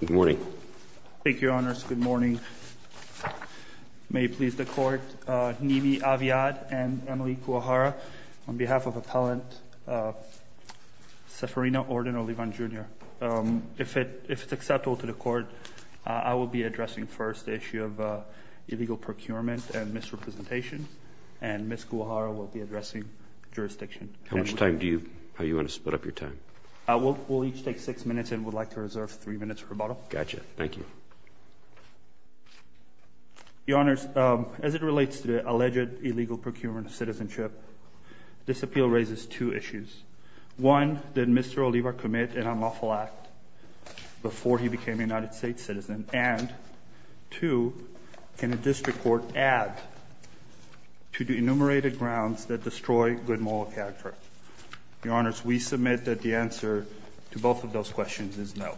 Good morning. Thank you, Your Honors. Good morning. May it please the Court, Nimi Aviad and Emily Guajara, on behalf of Appellant Ceferino Ordon Olivar, Jr., if it's acceptable to the Court, I will be addressing first the issue of illegal procurement and misrepresentation, and Ms. Guajara will be addressing jurisdiction. How much time do you—how do you want to split up your time? We'll each take six minutes, and we'd like to reserve three minutes for rebuttal. Gotcha. Thank you. Your Honors, as it relates to the alleged illegal procurement of citizenship, this appeal raises two issues. One, did Mr. Olivar commit an unlawful act before he became a United States citizen? And two, can a district court add to the enumerated grounds that destroy good moral character? Your Honors, we submit that the answer to both of those questions is no.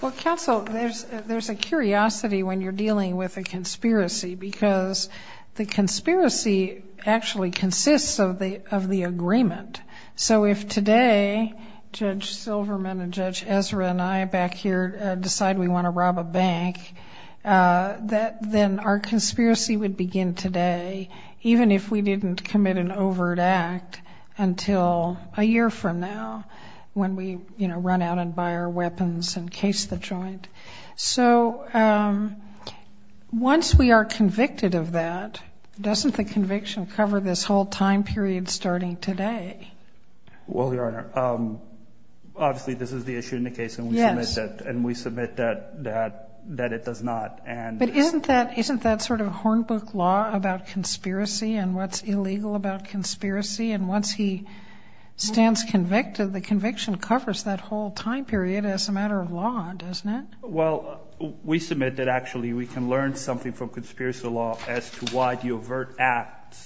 Well, Counsel, there's a curiosity when you're dealing with a conspiracy because the conspiracy actually consists of the agreement. So if today Judge Silverman and Judge Ezra and I back here decide we want to rob a bank, then our conspiracy would begin today, even if we didn't commit an overt act until a year from now when we, you know, run out and buy our weapons and case the joint. So once we are convicted of that, doesn't the conviction cover this whole time period starting today? Well, Your Honor, obviously this is the issue in the case and we submit that it does not. But isn't that sort of hornbook law about conspiracy and what's illegal about conspiracy? And once he stands convicted, the conviction covers that whole time period as a matter of law, doesn't it? Well, we submit that actually we can learn something from conspiracy law as to why the The overt act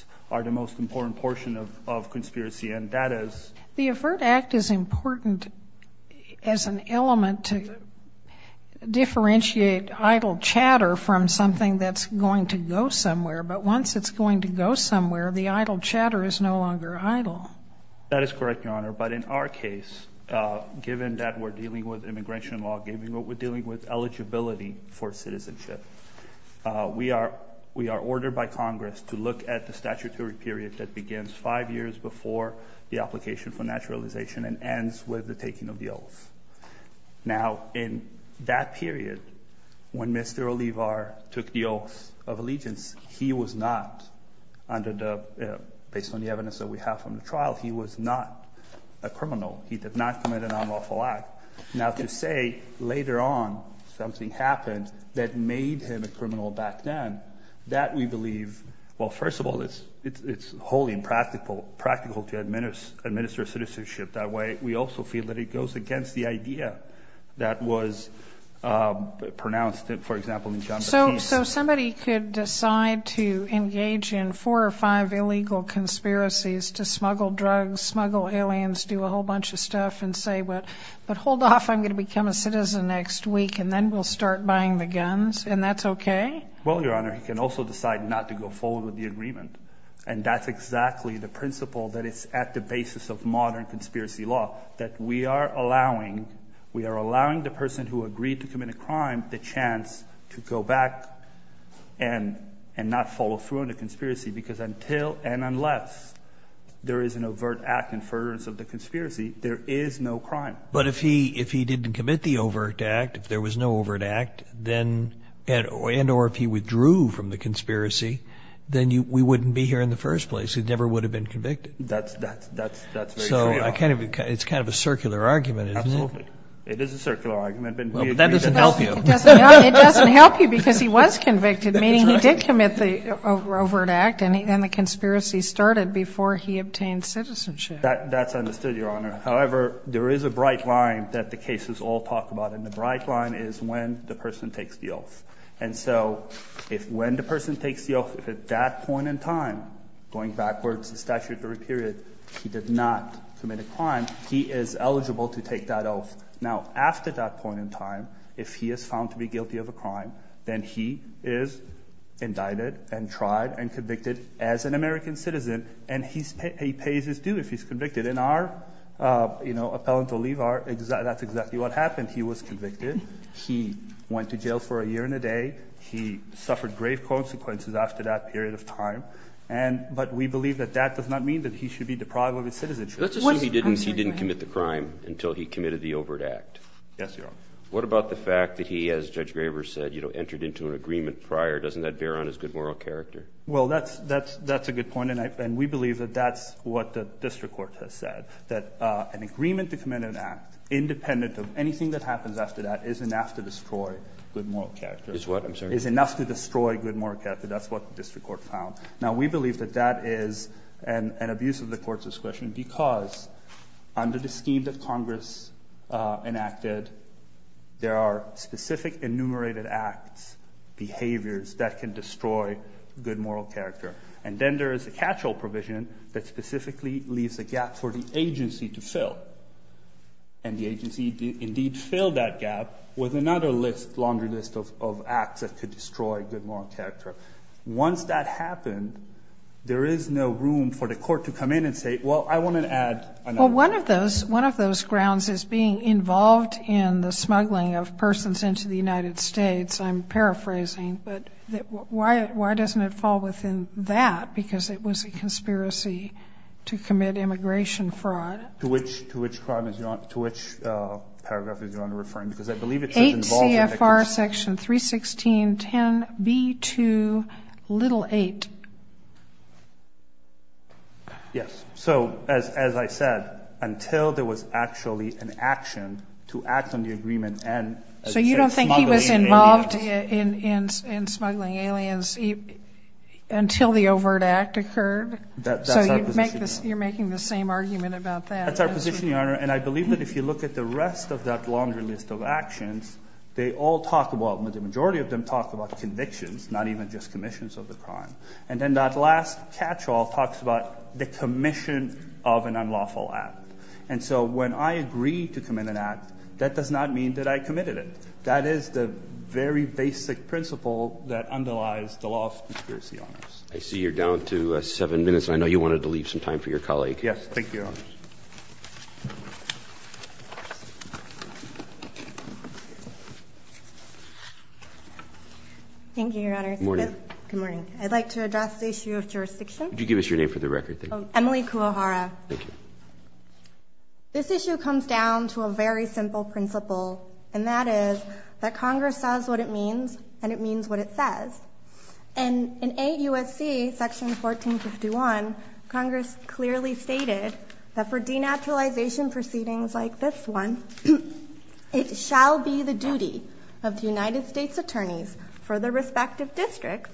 is important as an element to differentiate idle chatter from something that's going to go somewhere. But once it's going to go somewhere, the idle chatter is no longer idle. That is correct, Your Honor. But in our case, given that we're dealing with immigration law, given what we're dealing with, eligibility for citizenship, we are ordered by Congress to look at the statutory period that the application for naturalization and ends with the taking of the oath. Now, in that period, when Mr. Olivar took the oath of allegiance, he was not, based on the evidence that we have from the trial, he was not a criminal. He did not commit an unlawful act. Now, to say later on something happened that made him a criminal back then, that we believe, well, first of all, it's wholly impractical to administer citizenship that way. We also feel that it goes against the idea that was pronounced, for example, in John McCain's. So somebody could decide to engage in four or five illegal conspiracies to smuggle drugs, smuggle aliens, do a whole bunch of stuff and say, but hold off. I'm going to become a citizen next week, and then we'll start buying the guns, and that's okay? Well, Your Honor, he can also decide not to go forward with the agreement, and that's exactly the principle that is at the basis of modern conspiracy law, that we are allowing the person who agreed to commit a crime the chance to go back and not follow through on the conspiracy, because until and unless there is an overt act in furtherance of the conspiracy, there is no crime. But if he didn't commit the overt act, if there was no overt act, and or if he withdrew from the conspiracy, then we wouldn't be here in the first place. He never would have been convicted. That's very true, Your Honor. So it's kind of a circular argument, isn't it? Absolutely. It is a circular argument. But that doesn't help you. It doesn't help you because he was convicted, meaning he did commit the overt act, and the conspiracy started before he obtained citizenship. That's understood, Your Honor. However, there is a bright line that the cases all talk about, and the bright line is when the person takes the oath. And so if when the person takes the oath, if at that point in time, going backwards the statutory period, he did not commit a crime, he is eligible to take that oath. Now, after that point in time, if he is found to be guilty of a crime, then he is indicted and tried and convicted as an American citizen, and he pays his due if he's convicted. In our appellant relief, that's exactly what happened. He was convicted. He went to jail for a year and a day. He suffered grave consequences after that period of time. But we believe that that does not mean that he should be deprived of his citizenship. Let's assume he didn't commit the crime until he committed the overt act. Yes, Your Honor. What about the fact that he, as Judge Graver said, entered into an agreement prior? Doesn't that bear on his good moral character? Well, that's a good point. And we believe that that's what the district court has said, that an agreement to commit an act independent of anything that happens after that is enough to destroy good moral character. Is what, I'm sorry? Is enough to destroy good moral character. That's what the district court found. Now, we believe that that is an abuse of the Court's discretion because under the scheme that Congress enacted, there are specific enumerated acts, behaviors that can destroy good moral character. And then there is a catch-all provision that specifically leaves a gap for the agency to fill. And the agency indeed filled that gap with another list, longer list of acts that could destroy good moral character. Once that happened, there is no room for the court to come in and say, well, I want to add another. Well, one of those grounds is being involved in the smuggling of persons into the United States. I'm paraphrasing. But why doesn't it fall within that? Because it was a conspiracy to commit immigration fraud. To which paragraph is Your Honor referring to? Because I believe it says involved. 8 CFR Section 316.10B2.8. Yes. So, as I said, until there was actually an action to act on the agreement and say smuggling aliens. So you don't think he was involved in smuggling aliens until the overt act occurred? That's our position, Your Honor. So you're making the same argument about that? That's our position, Your Honor. And I believe that if you look at the rest of that longer list of actions, they all talk about, well, the majority of them talk about convictions, not even just commissions of the crime. And then that last catch-all talks about the commission of an unlawful act. And so when I agree to commit an act, that does not mean that I committed it. That is the very basic principle that underlies the law of conspiracy on us. I see you're down to seven minutes, and I know you wanted to leave some time for your colleague. Yes. Thank you, Your Honor. Thank you, Your Honor. Good morning. Good morning. I'd like to address the issue of jurisdiction. Could you give us your name for the record, please? Emily Kuwahara. Thank you. This issue comes down to a very simple principle, and that is that Congress says what it means and it means what it says. And in AUSC Section 1451, Congress clearly stated that for denaturalization proceedings like this one, it shall be the duty of the United States attorneys for their respective districts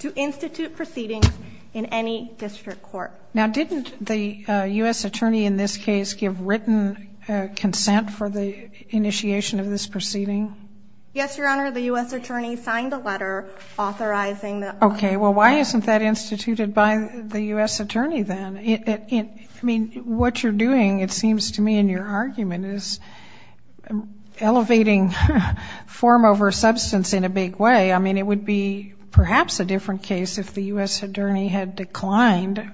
to institute proceedings in any district court. Now, didn't the U.S. attorney in this case give written consent for the initiation of this proceeding? Yes, Your Honor. The U.S. attorney signed a letter authorizing that. Okay. Well, why isn't that instituted by the U.S. attorney then? I mean, what you're doing, it seems to me in your argument, is elevating form over substance in a big way. I mean, it would be perhaps a different case if the U.S. attorney had declined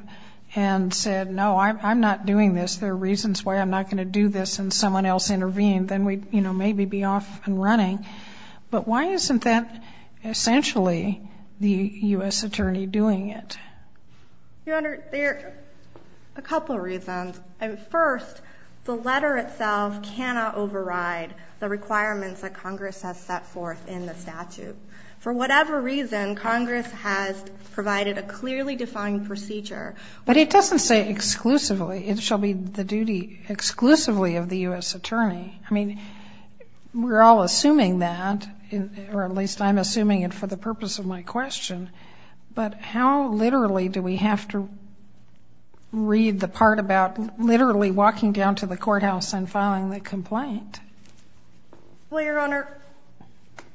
and said, no, I'm not doing this, there are reasons why I'm not going to do this, and someone else intervened, then we'd maybe be off and running. But why isn't that essentially the U.S. attorney doing it? Your Honor, there are a couple of reasons. First, the letter itself cannot override the requirements that Congress has set forth in the statute. For whatever reason, Congress has provided a clearly defined procedure. But it doesn't say exclusively. It shall be the duty exclusively of the U.S. attorney. I mean, we're all assuming that, or at least I'm assuming it for the purpose of my question, but how literally do we have to read the part about literally walking down to the courthouse and filing the complaint? Well, Your Honor,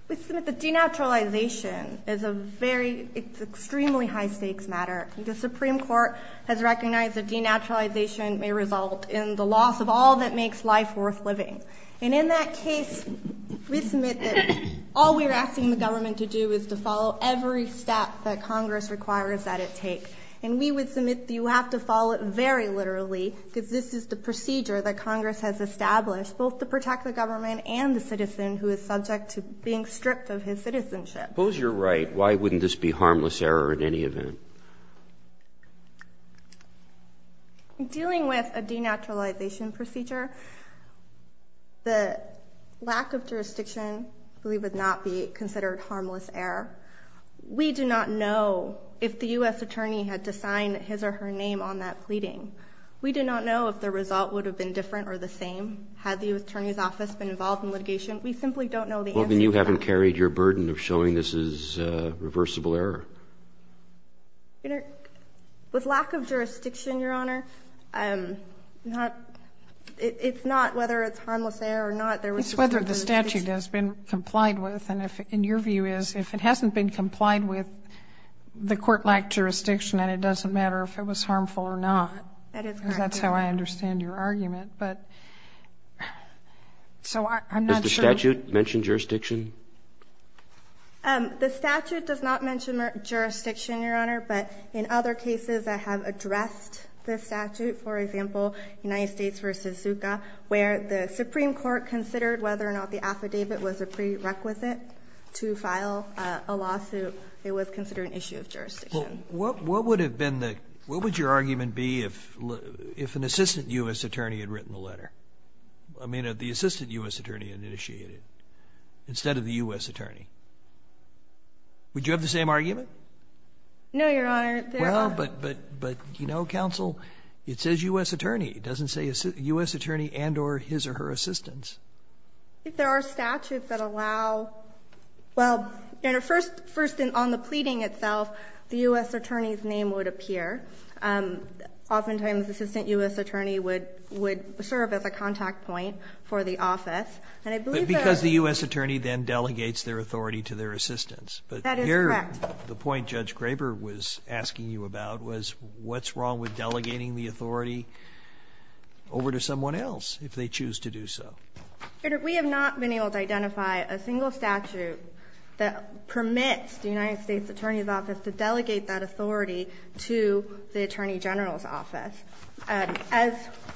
we submit that denaturalization is an extremely high-stakes matter. The Supreme Court has recognized that denaturalization may result in the loss of all that makes life worth living. And in that case, we submit that all we're asking the government to do is to follow every step that Congress requires that it take. And we would submit that you have to follow it very literally, because this is the procedure that Congress has established both to protect the government and the citizen who is subject to being stripped of his citizenship. Suppose you're right. Why wouldn't this be harmless error in any event? Dealing with a denaturalization procedure, the lack of jurisdiction would not be considered harmless error. We do not know if the U.S. attorney had to sign his or her name on that pleading. We do not know if the result would have been different or the same had the U.S. attorney's office been involved in litigation. Ms. Goldman, you haven't carried your burden of showing this is reversible error. With lack of jurisdiction, Your Honor, it's not whether it's harmless error or not. It's whether the statute has been complied with. And your view is if it hasn't been complied with, the court lacked jurisdiction, and it doesn't matter if it was harmful or not, because that's how I understand your argument. But so I'm not sure. Does the statute mention jurisdiction? The statute does not mention jurisdiction, Your Honor, but in other cases that have addressed the statute, for example, United States v. Zucca, where the Supreme Court considered whether or not the affidavit was a prerequisite to file a lawsuit, it was considered an issue of jurisdiction. What would your argument be if an assistant U.S. attorney had written the letter? I mean, the assistant U.S. attorney initiated it instead of the U.S. attorney. Would you have the same argument? No, Your Honor. Well, but, you know, counsel, it says U.S. attorney. It doesn't say U.S. attorney and or his or her assistants. I think there are statutes that allow, well, Your Honor, first on the pleading itself, the U.S. attorney's name would appear. Oftentimes assistant U.S. attorney would serve as a contact point for the office. But because the U.S. attorney then delegates their authority to their assistants. That is correct. But here the point Judge Graber was asking you about was what's wrong with delegating the authority over to someone else if they choose to do so? Your Honor, we have not been able to identify a single statute that permits the United States Attorney's Office to delegate that authority to the Attorney General's Office. As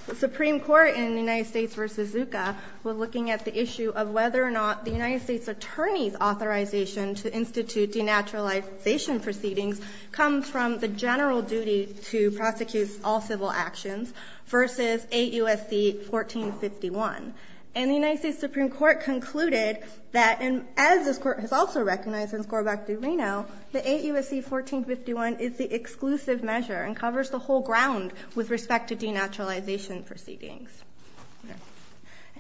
the Supreme Court in the United States v. Zucca was looking at the issue of whether or not the United States Attorney's authorization to institute denaturalization proceedings comes from the general duty to prosecute all civil actions versus 8 U.S.C. 1451. And the United States Supreme Court concluded that, and as this Court has also recognized in Scorbuck v. Reno, that 8 U.S.C. 1451 is the exclusive measure and covers the whole ground with respect to denaturalization proceedings.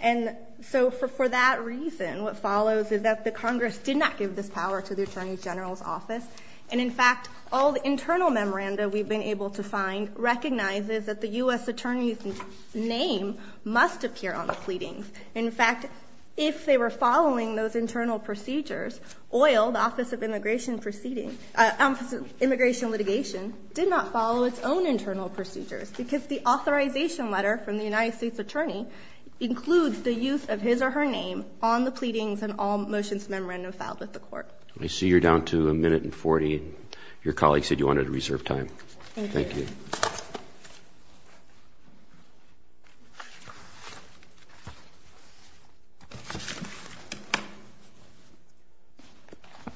And so for that reason, what follows is that the Congress did not give this power to the Attorney General's Office. And in fact, all the internal memoranda we've been able to find recognizes that the U.S. Attorney's name must appear on the pleadings. In fact, if they were following those internal procedures, OIL, the Office of Immigration Litigation, did not follow its own internal procedures because the authorization letter from the United States Attorney includes the use of his or her name on the pleadings and all motions memorandum filed with the Court. I see you're down to a minute and 40. Your colleague said you wanted to reserve time. Thank you. Thank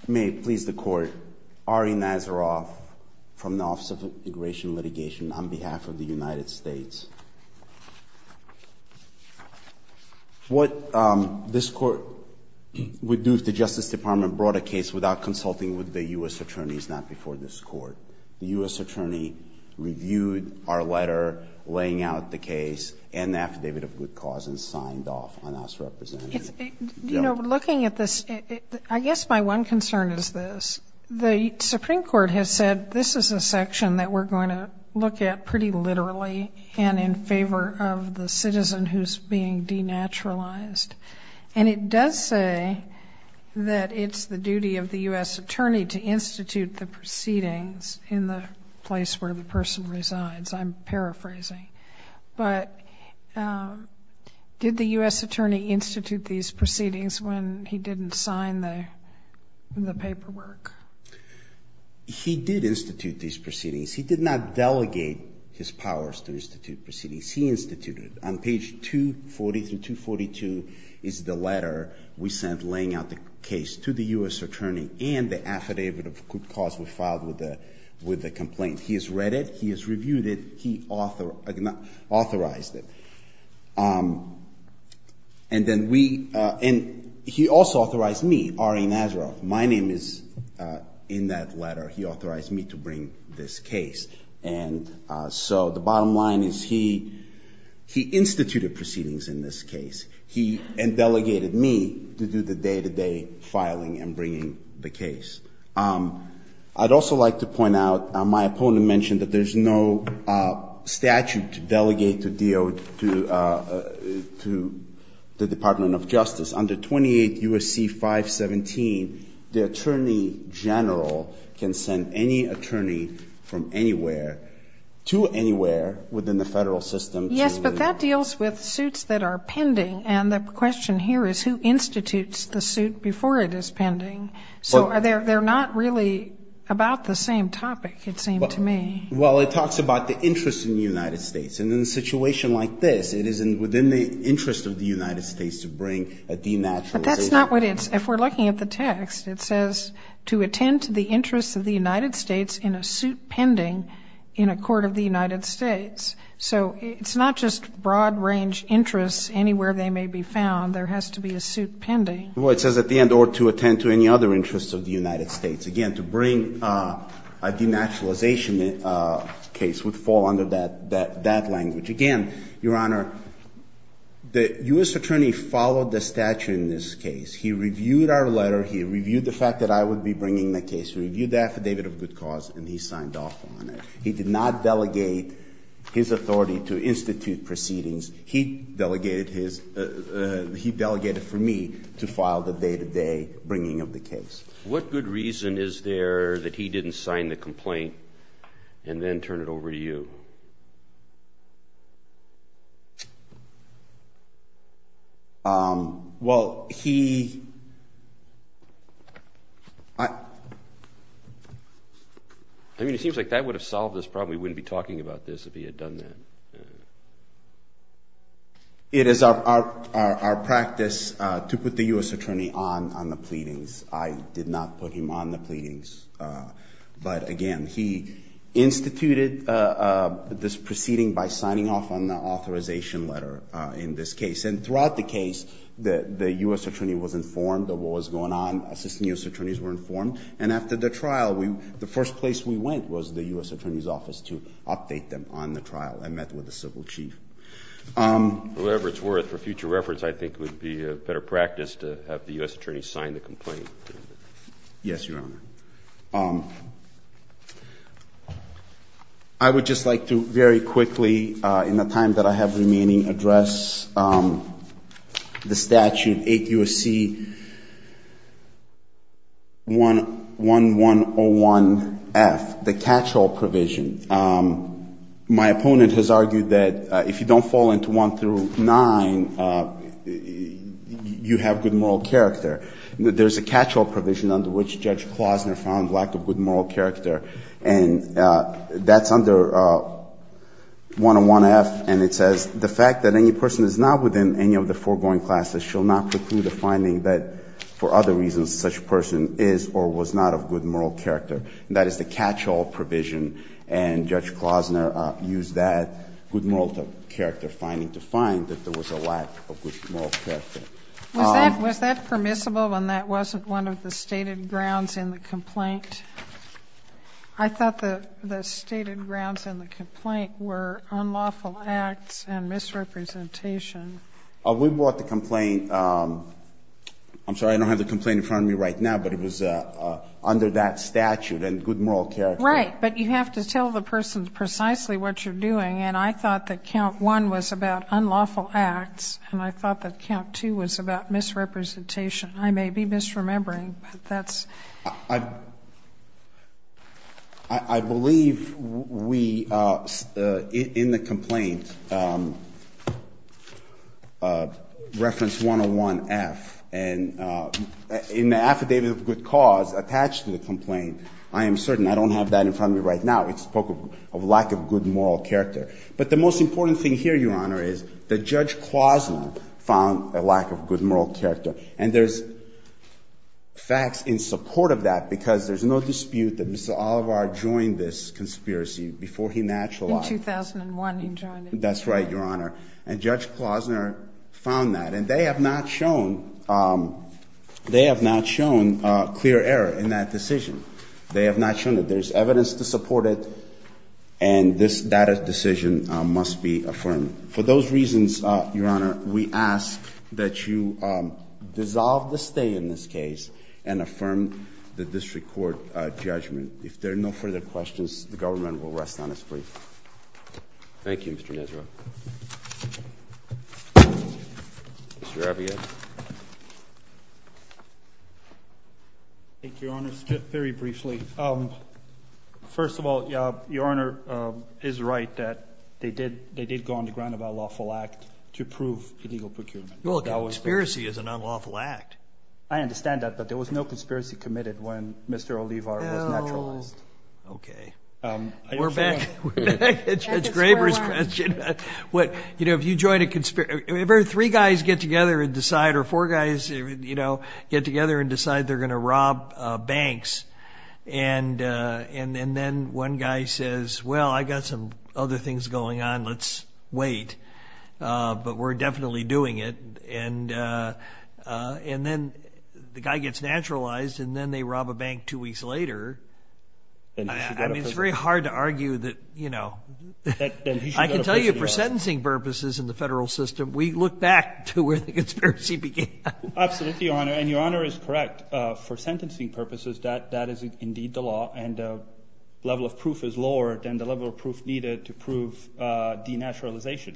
you. May it please the Court, Ari Nazaroff from the Office of Immigration Litigation on behalf of the United States. What this Court would do if the Justice Department brought a case without consulting with the U.S. Attorneys, not before this Court? The U.S. Attorney reviewed our letter laying out the case and the Affidavit of Good Cause and signed off on us representing. You know, looking at this, I guess my one concern is this. The Supreme Court has said this is a section that we're going to look at pretty literally and in favor of the citizen who's being denaturalized. And it does say that it's the duty of the U.S. Attorney to institute the proceedings in the place where the person resides. I'm paraphrasing. But did the U.S. Attorney institute these proceedings when he didn't sign the paperwork? He did institute these proceedings. He did not delegate his powers to institute proceedings. He instituted it. On page 240 through 242 is the letter we sent laying out the case to the U.S. Attorney and the Affidavit of Good Cause we filed with the complaint. He has read it. He has reviewed it. He authorized it. And then we – and he also authorized me, Ari Nazaroff. My name is in that letter. He authorized me to bring this case. And so the bottom line is he instituted proceedings in this case. He delegated me to do the day-to-day filing and bringing the case. I'd also like to point out my opponent mentioned that there's no statute to delegate to DO to the Department of Justice. Under 28 U.S.C. 517, the Attorney General can send any attorney from anywhere to anywhere within the federal system. Yes, but that deals with suits that are pending. And the question here is who institutes the suit before it is pending. So they're not really about the same topic, it seems to me. Well, it talks about the interest in the United States. And in a situation like this, it is within the interest of the United States to bring a denaturalization. But that's not what it's – if we're looking at the text, it says to attend to the interests of the United States in a suit pending in a court of the United States. So it's not just broad-range interests anywhere they may be found. There has to be a suit pending. Well, it says at the end, or to attend to any other interests of the United States. Again, to bring a denaturalization case would fall under that language. Again, Your Honor, the U.S. attorney followed the statute in this case. He reviewed our letter. He reviewed the fact that I would be bringing the case. He reviewed the affidavit of good cause, and he signed off on it. He did not delegate his authority to institute proceedings. He delegated his – he delegated for me to file the day-to-day bringing of the case. What good reason is there that he didn't sign the complaint and then turn it over to you? Well, he – I mean, it seems like that would have solved this problem. We wouldn't be talking about this if he had done that. It is our practice to put the U.S. attorney on the pleadings. I did not put him on the pleadings. But, again, he instituted this proceeding by signing off on the authorization letter in this case. And throughout the case, the U.S. attorney was informed of what was going on. Assistant U.S. attorneys were informed. And after the trial, the first place we went was the U.S. attorney's office to update them on the trial. I met with the civil chief. For whatever it's worth, for future reference, I think it would be a better practice to have the U.S. attorney sign the complaint. Yes, Your Honor. Thank you. I would just like to very quickly, in the time that I have remaining, address the statute 8 U.S.C. 1101F, the catch-all provision. My opponent has argued that if you don't fall into 1 through 9, you have good moral character. There's a catch-all provision under which Judge Klozner found lack of good moral character. And that's under 101F, and it says, The fact that any person is not within any of the foregoing classes shall not preclude a finding that, for other reasons, such a person is or was not of good moral character. That is the catch-all provision. And Judge Klozner used that good moral character finding to find that there was a lack of good moral character. Was that permissible when that wasn't one of the stated grounds in the complaint? I thought the stated grounds in the complaint were unlawful acts and misrepresentation. We brought the complaint. I'm sorry, I don't have the complaint in front of me right now, but it was under that statute and good moral character. Right, but you have to tell the person precisely what you're doing. And I thought that count 1 was about unlawful acts, and I thought that count 2 was about misrepresentation. I may be misremembering, but that's... I believe we, in the complaint, reference 101F, and in the affidavit of good cause attached to the complaint, I am certain I don't have that in front of me right now. We spoke of lack of good moral character. But the most important thing here, Your Honor, is that Judge Klozner found a lack of good moral character. And there's facts in support of that because there's no dispute that Mr. Olivar joined this conspiracy before he naturalized. In 2001 he joined it. That's right, Your Honor. And Judge Klozner found that, and they have not shown clear error in that decision. They have not shown it. There's evidence to support it, and this data decision must be affirmed. For those reasons, Your Honor, we ask that you dissolve the stay in this case and affirm the district court judgment. If there are no further questions, the government will rest on its feet. Thank you, Mr. Nesro. Mr. Rabiot. Thank you, Your Honor. Very briefly, first of all, Your Honor is right that they did go on the ground of an unlawful act to prove illegal procurement. Well, a conspiracy is an unlawful act. I understand that, but there was no conspiracy committed when Mr. Olivar was naturalized. Oh, okay. We're back to Judge Graber's question. If three guys get together and decide, or four guys get together and decide they're going to rob banks, and then one guy says, well, I've got some other things going on, let's wait, but we're definitely doing it, and then the guy gets naturalized, and then they rob a bank two weeks later, I mean, it's very hard to argue that, you know. I can tell you for sentencing purposes in the federal system, we look back to where the conspiracy began. Absolutely, Your Honor, and Your Honor is correct. For sentencing purposes, that is indeed the law, and the level of proof is lower than the level of proof needed to prove denaturalization.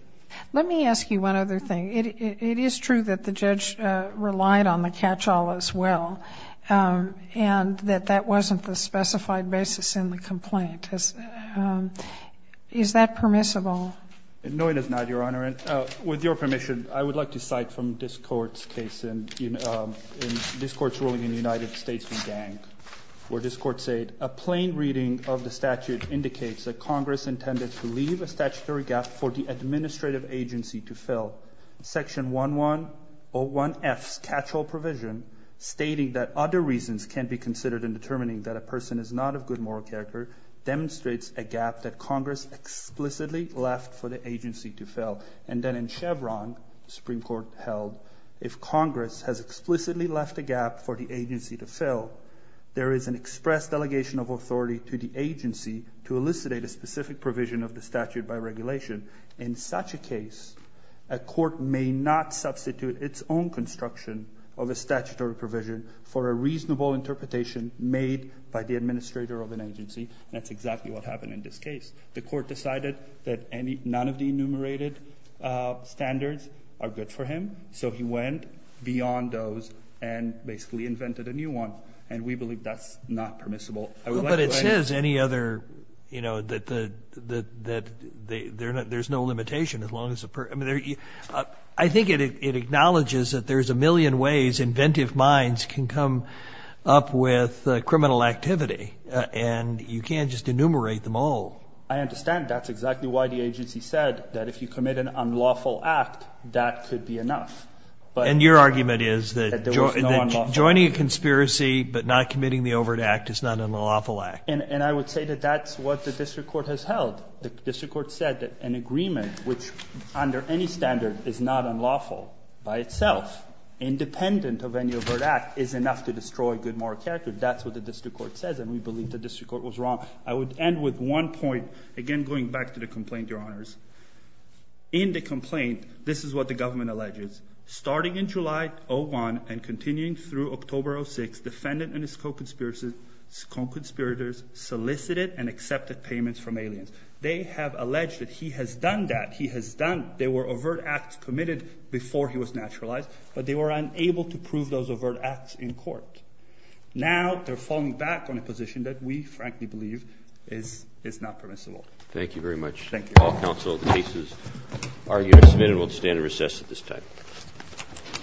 Let me ask you one other thing. It is true that the judge relied on the catch-all as well, and that that wasn't the specified basis in the complaint. Is that permissible? No, it is not, Your Honor, and with your permission, I would like to cite from this Court's ruling in the United States v. Gang, where this Court said, a plain reading of the statute indicates that Congress intended to leave a statutory gap for the administrative agency to fill. Section 1101F's catch-all provision stating that other reasons can be considered in determining that a person is not of good moral character demonstrates a gap that Congress explicitly left for the agency to fill. And then in Chevron, the Supreme Court held, if Congress has explicitly left a gap for the agency to fill, there is an express delegation of authority to the agency to elucidate a specific provision of the statute by regulation. In such a case, a court may not substitute its own construction of a statutory provision for a reasonable interpretation made by the administrator of an agency, and that's exactly what happened in this case. The Court decided that none of the enumerated standards are good for him, so he went beyond those and basically invented a new one, and we believe that's not permissible. But it says any other, you know, that there's no limitation as long as a person – I think it acknowledges that there's a million ways inventive minds can come up with criminal activity, and you can't just enumerate them all. I understand. That's exactly why the agency said that if you commit an unlawful act, that could be enough. And your argument is that joining a conspiracy but not committing the overt act is not an unlawful act. And I would say that that's what the district court has held. The district court said that an agreement which, under any standard, is not unlawful by itself, independent of any overt act, is enough to destroy good moral character. That's what the district court says, and we believe the district court was wrong. I would end with one point, again going back to the complaint, Your Honors. In the complaint, this is what the government alleges. Starting in July 2001 and continuing through October 2006, the defendant and his co-conspirators solicited and accepted payments from aliens. They have alleged that he has done that. They were overt acts committed before he was naturalized, but they were unable to prove those overt acts in court. Now they're falling back on a position that we frankly believe is not permissible. Thank you very much. Thank you. All counsel, the case is argued and submitted. We'll stand and recess at this time.